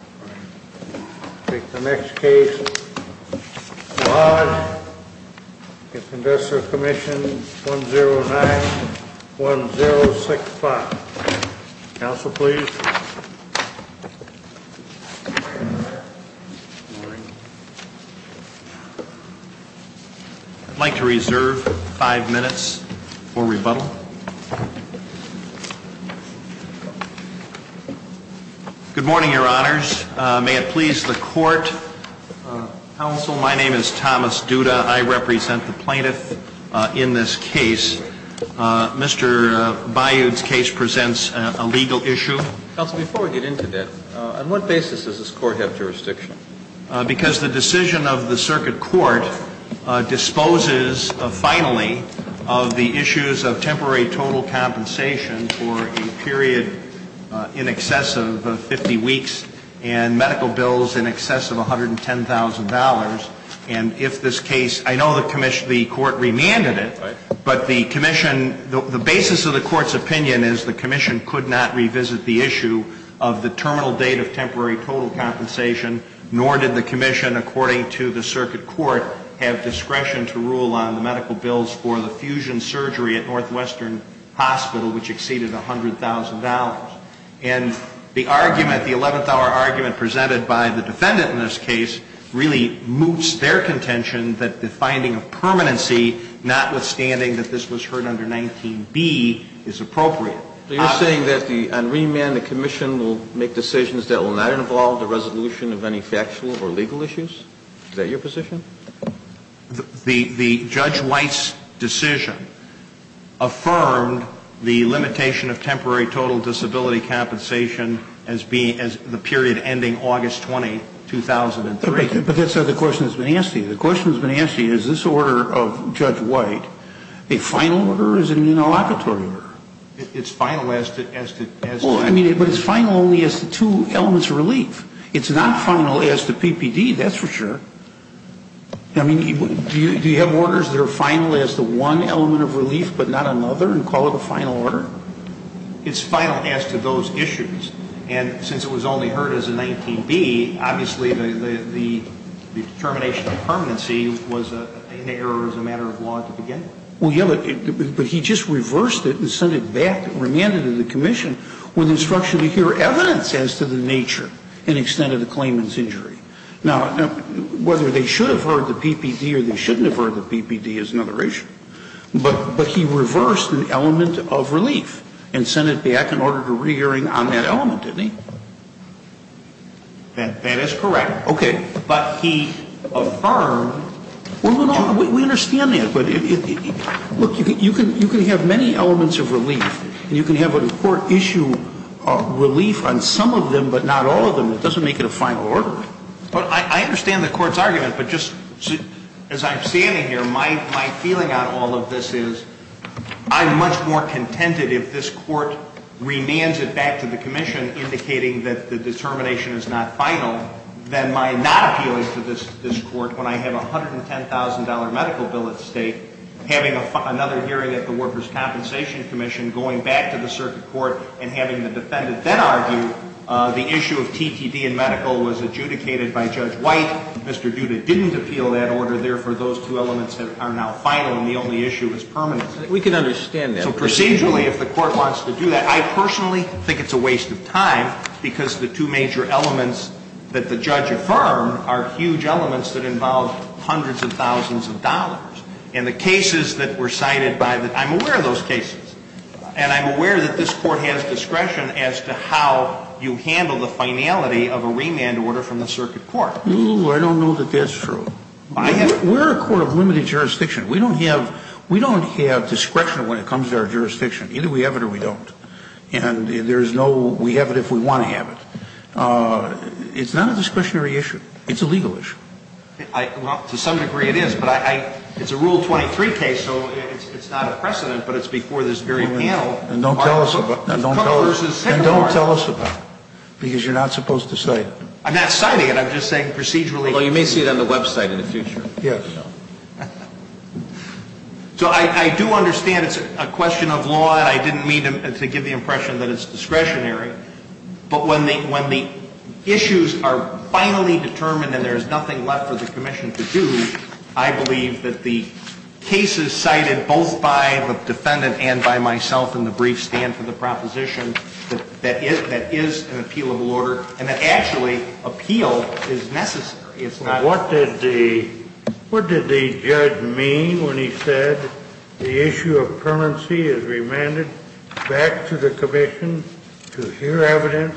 I would like to reserve five minutes for rebuttal. Good morning, your honors. May it please the court. Counsel, my name is Thomas Duda. I represent the plaintiff in this case. Mr. Bayoudh's case presents a legal issue. Counsel, before we get into that, on what basis does this court have jurisdiction? Because the decision of the circuit court disposes, finally, of the issues of temporary total compensation for a period in excess of 50 weeks and medical bills in excess of $110,000. And if this case, I know the court remanded it, but the commission, the basis of the court's opinion is the commission could not revisit the issue of the terminal date of temporary total compensation, nor did the commission, according to the circuit court, have discretion to rule on the medical bills for the fusion surgery at Northwestern Hospital, which exceeded $100,000. And the argument, the 11th-hour argument presented by the defendant in this case really moots their contention that the finding of permanency, notwithstanding that this was heard under 19b, is appropriate. So you're saying that on remand the commission will make decisions that will not involve the resolution of any factual or legal issues? Is that your position? The Judge White's decision affirmed the limitation of temporary total disability compensation as being, as the period ending August 20, 2003. But that's not the question that's been asked to you. The question that's been asked to you is this order of Judge White, a final order or is it an interlocutory order? It's final as to, as to, as to Well, I mean, but it's final only as to two elements of relief. It's not final as to PPD, that's for sure. I mean, do you have orders that are final as to one element of relief but not another and call it a final order? It's final as to those issues. And since it was only heard as a 19b, obviously the determination of permanency was an error as a matter of law at the beginning. Well, yeah, but he just reversed it and sent it back, remanded it to the commission with instruction to hear evidence as to the nature and extent of the claimant's injury. Now, whether they should have heard the PPD or they shouldn't have heard the PPD is another issue. But he reversed an element of relief and sent it back in order to re-hearing on that element, didn't he? That is correct. Okay. But he affirmed Well, we understand that. But look, you can have many elements of relief and you can have an important issue of relief on some of them but not all of them. It doesn't make it a final order. Well, I understand the Court's argument. But just as I'm standing here, my feeling on all of this is I'm much more contented if this Court remands it back to the commission indicating that the determination is not final than my not appealing to this Court when I have a $110,000 medical bill at stake, having another hearing at the Workers' Compensation Commission, going back to the circuit court and having the defendant then argue the issue of TTD and medical was adjudicated by Judge White. Mr. Duda didn't appeal that order. Therefore, those two elements are now final and the only issue is permanent. We can understand that. So procedurally, if the Court wants to do that, I personally think it's a waste of time because the two major elements that the judge affirmed are huge elements that involve hundreds of thousands of dollars. And the cases that were cited by the I'm aware of those cases. And I'm aware that this Court has discretion as to how you handle the finality of a remand order from the circuit court. No, I don't know that that's true. We're a court of limited jurisdiction. We don't have discretion when it comes to our jurisdiction. Either we have it or we don't. And there's no we have it if we want to have it. It's not a discretionary issue. It's a legal issue. Well, to some degree it is, but it's a Rule 23 case, so it's not a precedent, but it's before this very panel. And don't tell us about it, because you're not supposed to cite it. I'm not citing it. I'm just saying procedurally. Well, you may see it on the website in the future. So I do understand it's a question of law, and I didn't mean to give the impression that it's discretionary. But when the issues are finally determined and there's nothing left for the Commission to do, I believe that the cases cited both by the defendant and by myself in the brief stand for the proposition that is an appealable order and that actually appeal is necessary. What did the judge mean when he said the issue of permanency is remanded back to the Commission to hear evidence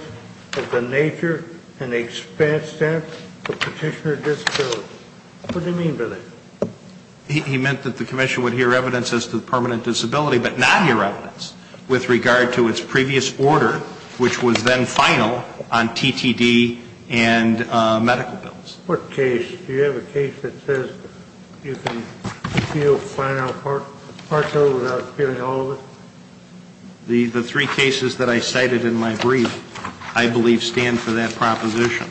of the nature and extent of petitioner disability? What did he mean by that? He meant that the Commission would hear evidence as to the permanent disability, but not hear evidence with regard to its previous order, which was then final on TTD and medical bills. What case? Do you have a case that says you can appeal final partial without appealing all of it? The three cases that I cited in my brief, I believe, stand for that proposition,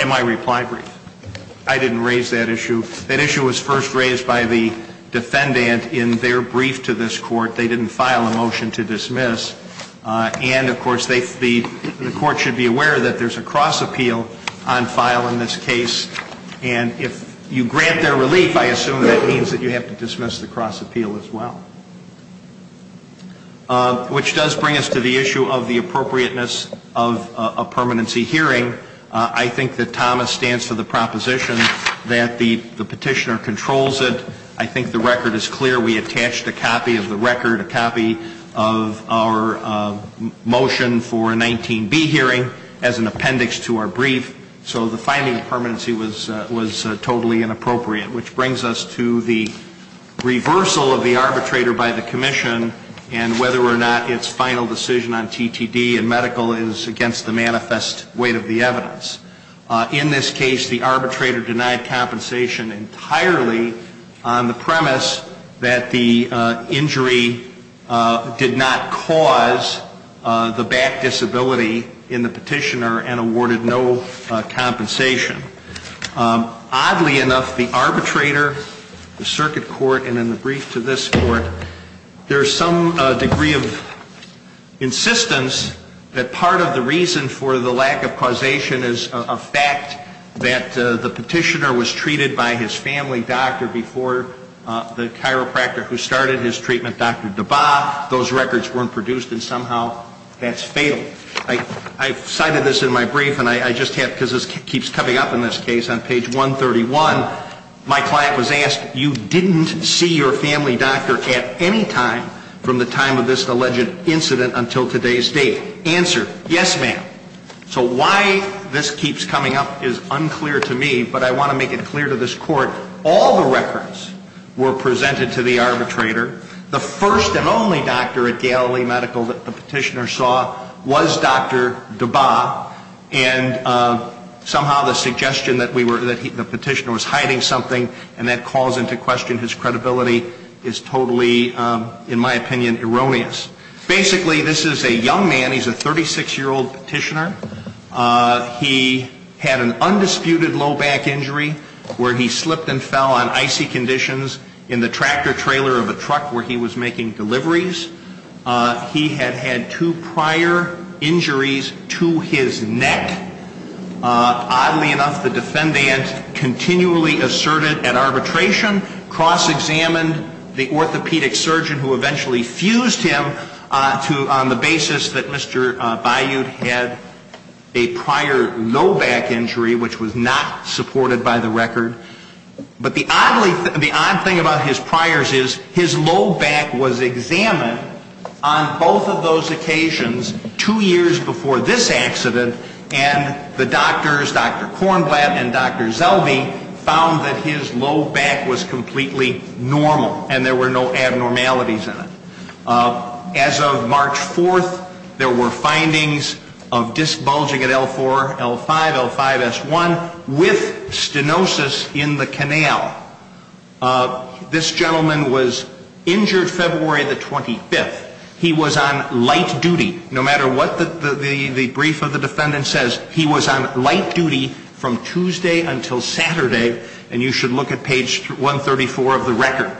in my reply brief. I didn't raise that issue. That issue was first raised by the defendant in their brief to this Court. They didn't file a motion to dismiss. And, of course, the Court should be aware that there's a cross-appeal on file in this case. And if you grant their relief, I assume that means that you have to dismiss the cross-appeal as well. Which does bring us to the issue of the appropriateness of a permanency hearing. I think that Thomas stands for the proposition that the petitioner controls it. I think the record is clear. We attached a copy of the record, a copy of our motion for a 19-B hearing as an appendix to our brief. So the finding of permanency was totally inappropriate. Which brings us to the reversal of the arbitrator by the Commission and whether or not its final decision on TTD and medical is against the manifest weight of the evidence. In this case, the arbitrator denied compensation entirely on the premise that the injury did not cause the back disability in the petitioner and awarded no compensation. Oddly enough, the arbitrator, the circuit court, and in the brief to this Court, there is some degree of insistence that part of the reason for the lack of causation is the fact that the petitioner was treated by his family doctor before the chiropractor who started his treatment, Dr. Dabbaugh. Those records weren't produced and somehow that's fatal. I cited this in my brief and I just have, because this keeps coming up in this case, on page 131, my client was asked, you didn't see your family doctor at any time from the time of this alleged incident until today's date. Answer, yes, ma'am. So why this keeps coming up is unclear to me, but I want to make it clear to this Court, all the records were presented to the arbitrator. The first and only doctor at Galilee Medical that the petitioner saw was Dr. Dabbaugh and somehow the suggestion that the petitioner was hiding something and that calls into question his credibility is totally, in my opinion, erroneous. Basically, this is a young man, he's a 36-year-old petitioner. He had an undisputed low back injury where he slipped and fell on icy conditions in the tractor trailer of a truck where he was making deliveries. He had had two prior injuries to his neck. Oddly enough, the defendant continually asserted at arbitration, cross-examined the orthopedic surgeon who eventually fused him on the basis that Mr. Bayoud had a prior low back injury, which was not supported by the record. But the odd thing about his priors is his low back was examined on both of those occasions two years before this accident and the doctors, Dr. Kornblatt and Dr. Zelbe, found that his low back was completely normal and there were no abnormalities in it. As of March 4th, there were findings of disc bulging at L4, L5, L5S1 with stenosis in the canal. This gentleman was injured February the 25th. He was on light duty, no matter what the brief of the defendant says, he was on light duty from Tuesday until Saturday, and you should look at page 134 of the record.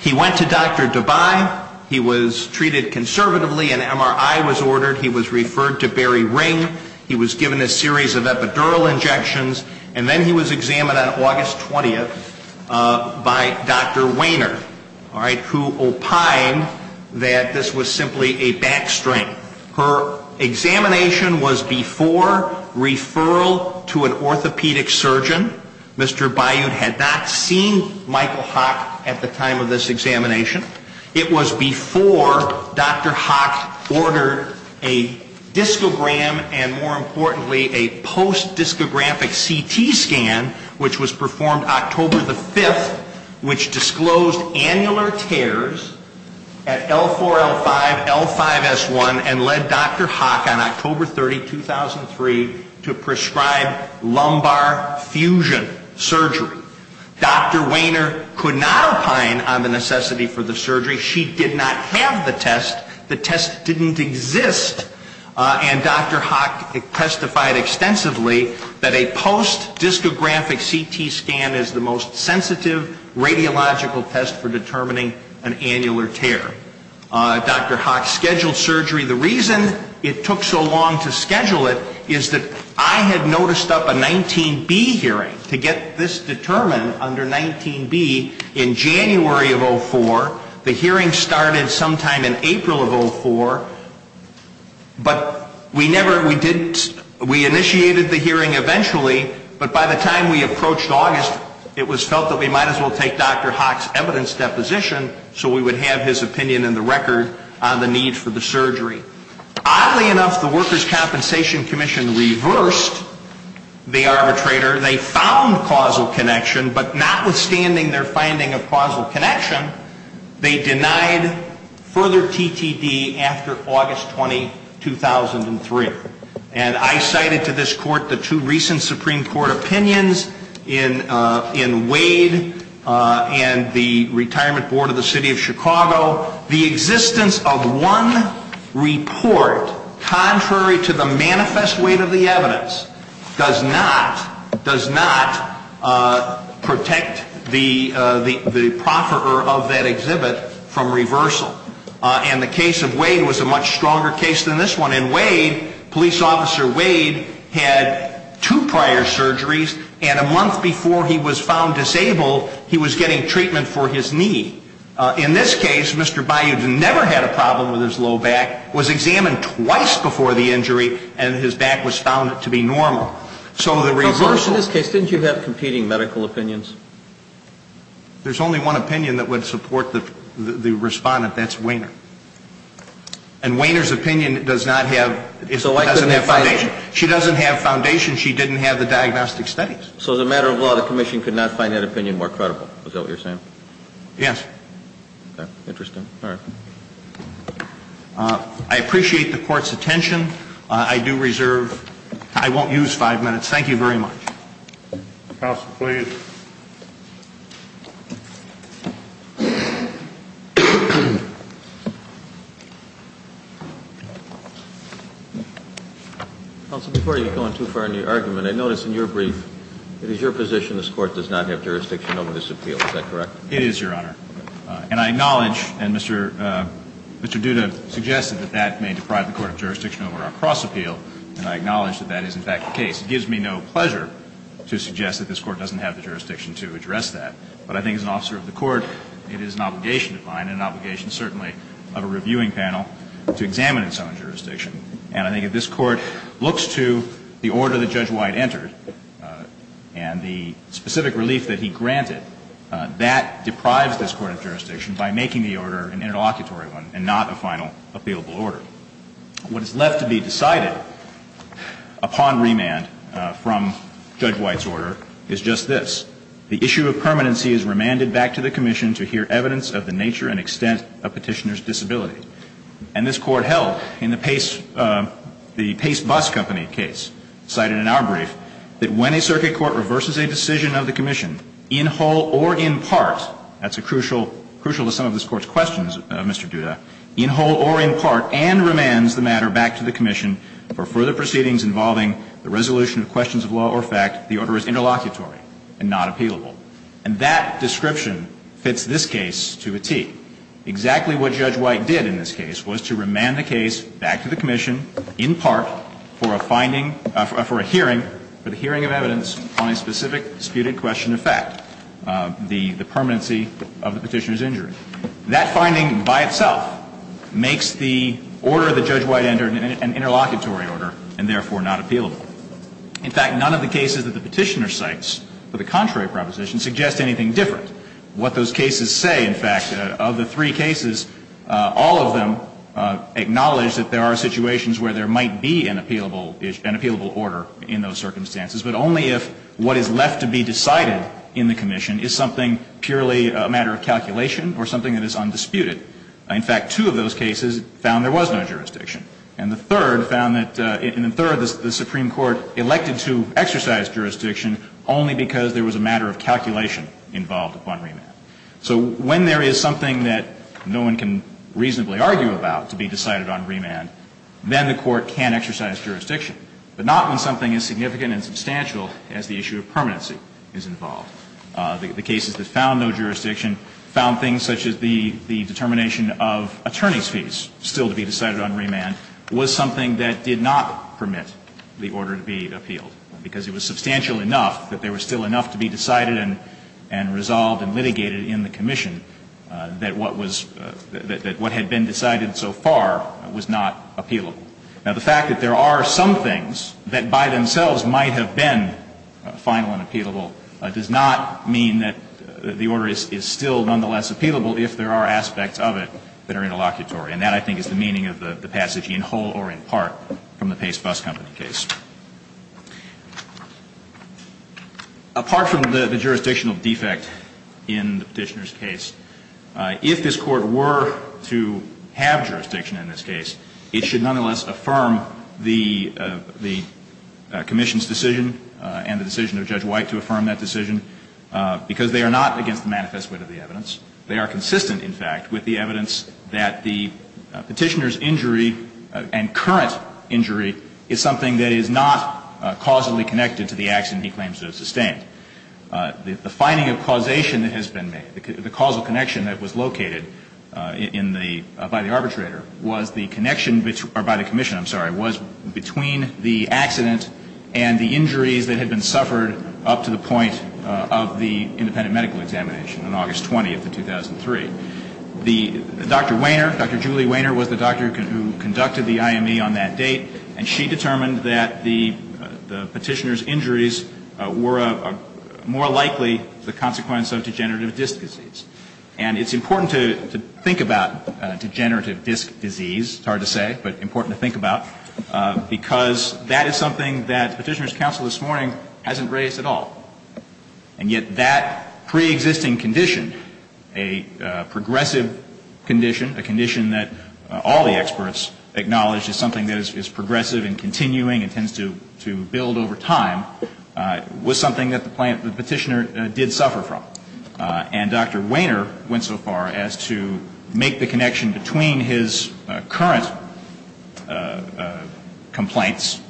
He went to Dr. Debye. He was treated conservatively. An MRI was ordered. He was referred to Barry Ring. He was given a series of epidural injections. And then he was examined on August 20th by Dr. Wainer, all right, who opined that this was simply a back strain. Her examination was before referral to an orthopedic surgeon. Mr. Bayoud had not seen Michael Hock at the time of this examination. It was before Dr. Hock ordered a discogram and, more importantly, a post-discographic CT scan, which was performed October the 5th, which disclosed annular tears at L4, L5, L5S1 and led Dr. Hock on October 30, 2003, to prescribe lumbar fusion surgery. Dr. Wainer could not opine on the necessity for the surgery. She did not have the test. The test didn't exist. And Dr. Hock testified extensively that a post-discographic CT scan is the most sensitive radiological test for determining an annular tear. Dr. Hock scheduled surgery. The reason it took so long to schedule it is that I had noticed up a 19B hearing to get this determined under 19B in January of 2004. The hearing started sometime in April of 2004, but we never, we initiated the hearing eventually, but by the time we approached August, it was felt that we might as well take Dr. Hock's evidence deposition so we would have his opinion in the record on the need for the surgery. Oddly enough, the Workers' Compensation Commission reversed the arbitrator. They found causal connection, but notwithstanding their finding of causal connection, they denied further TTD after August 20, 2003. And I cited to this Court the two recent Supreme Court opinions in Wade and the Retirement Board of the City of Chicago. The existence of one does not protect the profferer of that exhibit from reversal. And the case of Wade was a much stronger case than this one. In Wade, Police Officer Wade had two prior surgeries and a month before he was found disabled, he was getting treatment for his knee. In this case, Mr. Bayoud never had a problem with his low back, was examined twice before the injury, and his back was found to be normal. So the reversal... But of course, in this case, didn't you have competing medical opinions? There's only one opinion that would support the respondent. That's Wehner. And Wehner's opinion does not have, doesn't have foundation. So I couldn't have... She doesn't have foundation. She didn't have the diagnostic studies. So as a matter of law, the Commission could not find that opinion more credible. Is that what you're saying? Yes. Okay. Interesting. All right. I appreciate the Court's attention. I do reserve... I won't use five minutes. Thank you very much. Counsel, please. Counsel, before you go on too far in your argument, I notice in your brief, it is your position this Court does not have jurisdiction over this appeal. Is that correct? It is, Your Honor. And I acknowledge, and Mr. Duda suggested that that may deprive the Court of jurisdiction over our cross-appeal, and I acknowledge that that is in fact the case. It gives me no pleasure to suggest that this Court doesn't have the jurisdiction to address that. But I think as an officer of the Court, it is an obligation of mine and an obligation certainly of a reviewing panel to examine its own jurisdiction. And I think if this Court looks to the order that Judge White entered and the specific relief that he granted, that deprives this Court of jurisdiction by making the order an interlocutory one and not a final appealable order. What is left to be decided upon remand from Judge White's order is just this. The issue of permanency is remanded back to the Commission to hear evidence of the nature and extent of Petitioner's disability. And this Court held in the Pace Bus Company case, cited in our brief, that when a circuit court reverses a decision of the Commission in whole or in part, that's crucial to some of this Court's questions, Mr. Duda, in whole or in part and remands the matter back to the Commission for further proceedings involving the resolution of questions of law or fact, the order is interlocutory and not appealable. And that description fits this case to a tee. Exactly what Judge White did in this case was to remand the case back to the Commission in part for a finding, for a hearing, for the hearing of evidence on a specific disputed question of fact, the permanency of the Petitioner's injury. That finding by itself makes the order that Judge White entered an interlocutory order and therefore not appealable. In fact, none of the cases that the Petitioner cites for the contrary proposition suggest anything different. What those cases say, in fact, of the three cases, all of them acknowledge that there are situations where there might be an appealable order in those circumstances, but only if what is left to be decided in the Commission is something purely a matter of calculation or something that is undisputed. In fact, two of those cases found there was no jurisdiction. And the third found that, in the third, the Supreme Court elected to exercise jurisdiction only because there was a matter of calculation involved upon remand. So when there is something that no one can reasonably argue about to be decided on remand, then the Court can exercise jurisdiction, but not when something as significant and substantial as the issue of permanency is involved. The cases that found no jurisdiction found things such as the determination of attorney's fees still to be decided on remand was something that did not permit the order to be appealed, because it was substantial enough that there was still enough to be decided and resolved and litigated in the Commission that what was, that what had been decided so far was not appealable. Now, the fact that there are some things that by themselves might have been final and appealable does not mean that the order is still nonetheless appealable if there are aspects of it that are in the case. Apart from the jurisdictional defect in the Petitioner's case, if this Court were to have jurisdiction in this case, it should nonetheless affirm the Commission's decision and the decision of Judge White to affirm that decision, because they are not against the manifest witness of the evidence. They are consistent, in fact, with the evidence that the Petitioner's injury and current injury is something that is not causally connected to the accident he claims to have sustained. The finding of causation that has been made, the causal connection that was located in the, by the arbitrator, was the connection, or by the Commission, I'm sorry, was between the accident and the injuries that had been suffered up to the point of the independent medical examination on August 20th of 2003. The, Dr. Wainer, Dr. Julie Wainer was the doctor who conducted the IME on that date, and she determined that the Petitioner's injuries were more likely the consequence of degenerative disc disease. And it's important to think about degenerative disc disease, it's hard to say, but important to think about, because that is something that Petitioner's counsel this morning hasn't raised at all. And yet that preexisting condition, a progressive condition, a condition that all the experts acknowledge is something that is progressive and continuing and tends to build over time, was something that the Petitioner did suffer from. And Dr. Wainer went so far as to make the connection between his current complaints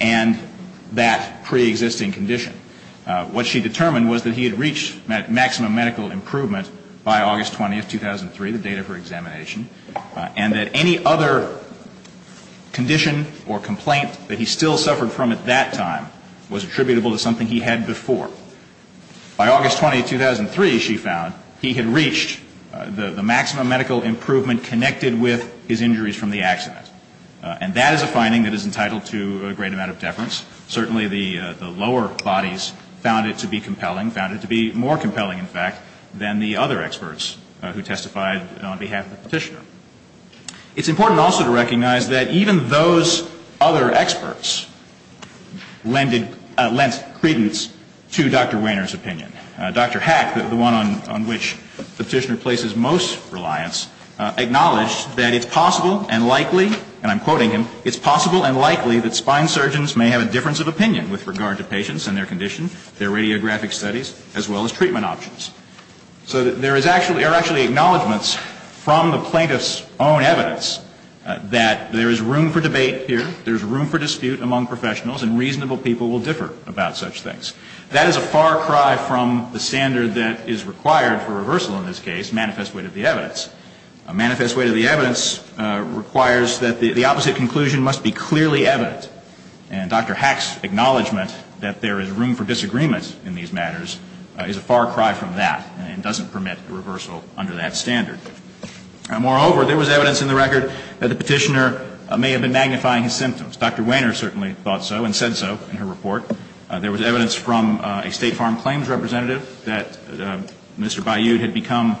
and that preexisting condition. What she determined was that he had reached maximum medical improvement by August 20th, 2003, the date of her examination, and that any other condition or complaint that he still suffered from at that time was attributable to something he had before. By August 20th, 2003, she found, he had reached the maximum medical improvement connected with his injuries from the accident. And that is a finding that is entitled to a great amount of deference. Certainly the lower bodies found it to be compelling, found it to be more compelling in fact, than the other experts who testified on behalf of the Petitioner. It's important also to recognize that even those other experts lent credence to Dr. Wainer's opinion. Dr. Hack, the one on which the Petitioner places most reliance, acknowledged that it's possible and likely, and I'm quoting him, it's possible and likely, that Dr. Wainer's findings may have a difference of opinion with regard to patients and their condition, their radiographic studies, as well as treatment options. So there are actually acknowledgments from the plaintiff's own evidence that there is room for debate here, there is room for dispute among professionals, and reasonable people will differ about such things. That is a far cry from the standard that is required for reversal in this case, manifest weight of the evidence. Manifest weight of the evidence requires that the opposite conclusion must be clearly evident. And Dr. Hack's acknowledgment that there is room for disagreement in these matters is a far cry from that and doesn't permit a reversal under that standard. Moreover, there was evidence in the record that the Petitioner may have been magnifying his symptoms. Dr. Wainer certainly thought so and said so in her report. There was evidence from a State Farm Claims representative that Mr. Bayoud had become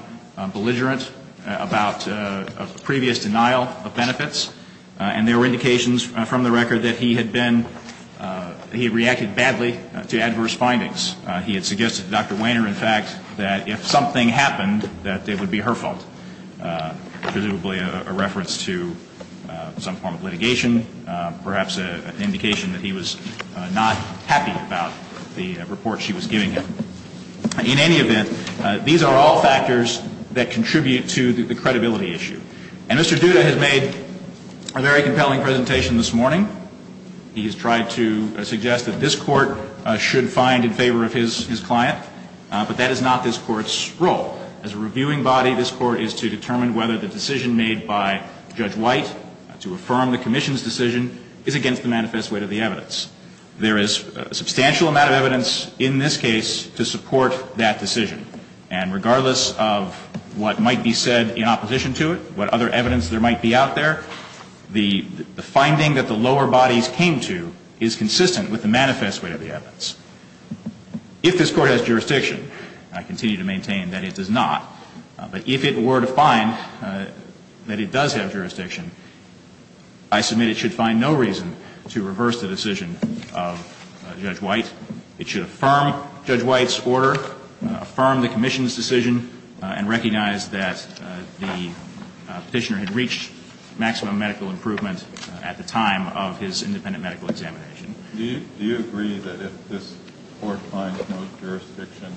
belligerent about a previous denial of benefits, and there were indications from the record that he had been, he reacted badly to adverse findings. He had suggested to Dr. Wainer, in fact, that if something happened, that it would be her fault, presumably a reference to some form of litigation, perhaps an indication that he was not happy about the report she was giving him. In any event, these are all factors that contribute to the credibility issue. And Mr. Duda has made a very compelling presentation this morning. He has tried to suggest that this Court should find in favor of his client, but that is not this The only evidence that the lower bodies came to, and the evidence that was presented by Judge White to affirm the Commission's decision, is against the manifest weight of the evidence. There is a substantial amount of evidence in this case to support that decision. And regardless of what might be said in opposition to it, what other evidence there might be out there, the finding that the lower bodies came to is consistent with the manifest weight of the evidence. If this Court has jurisdiction, I continue to maintain that it does not. But if it were to find that it does have jurisdiction, I submit it should find no reason to reverse the decision of Judge White. It should affirm Judge White's order, affirm the Commission's decision, and recognize that the Petitioner had reached maximum medical improvement at the time of his independent medical examination. Do you agree that if this Court finds no jurisdiction,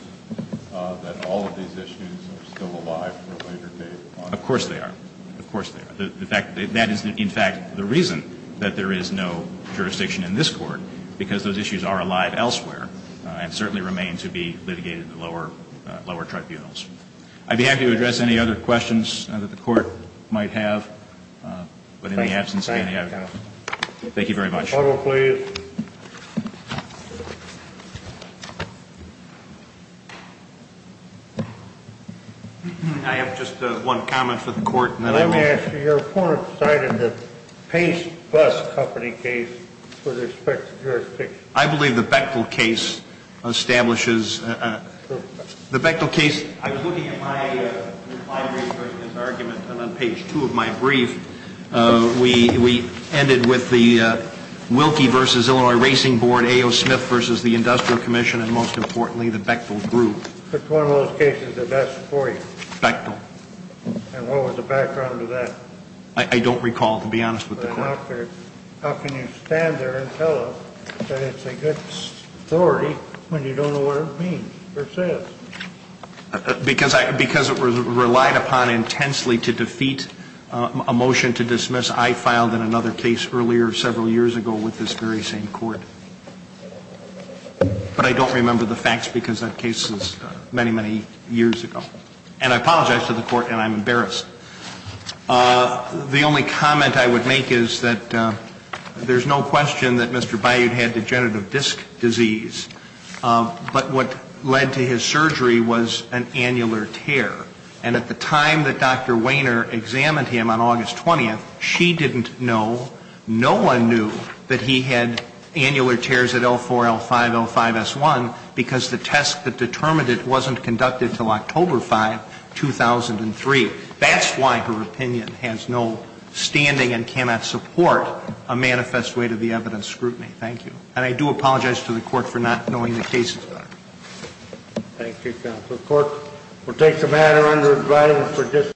that all of these issues are still alive for a later date? Of course they are. Of course they are. The fact that that is, in fact, the reason that there is no jurisdiction in this Court, because those issues are alive elsewhere and certainly remain to be litigated in the lower tribunals. I'd be happy to address any other questions that the Court might have. But in the absence of any, I've got to go. Thank you very much. Photo, please. I have just one comment for the Court. Let me ask you, your report cited the Pace Bus Company case with respect to jurisdiction. I believe the Bechtel case establishes, the Bechtel case, I was looking at my argument, and on page two of my brief, we ended with the Wilkie v. Illinois Racing Board, A.O. Smith v. the Industrial Commission, and most importantly, the Bechtel Group. Which one of those cases is best for you? Bechtel. And what was the background to that? I don't recall, to be honest with the Court. How can you stand there and tell us that it's a good story when you don't know what it means, or says? Because it was relied upon intensely to defeat a motion to dismiss, I filed in another case earlier several years ago with this very same Court. But I don't remember the facts because that case was many, many years ago. And I apologize to the Court, and I'm embarrassed. The only comment I would make is that there's no question that Mr. Bayoud had degenerative disc disease. But what led to his surgery was an annular tear. And at the time that Dr. Wehner examined him on August 20th, she didn't know, no one knew that he had annular tears at L4, L5, L5, S1, because the test that determined it wasn't conducted until October 5, 2003. That's why her opinion has no standing and cannot support a manifest way to the evidence scrutiny. Thank you. And I do apologize to the Court for not knowing the cases better. Thank you, Counsel. The Court will take the matter under advisory for dis-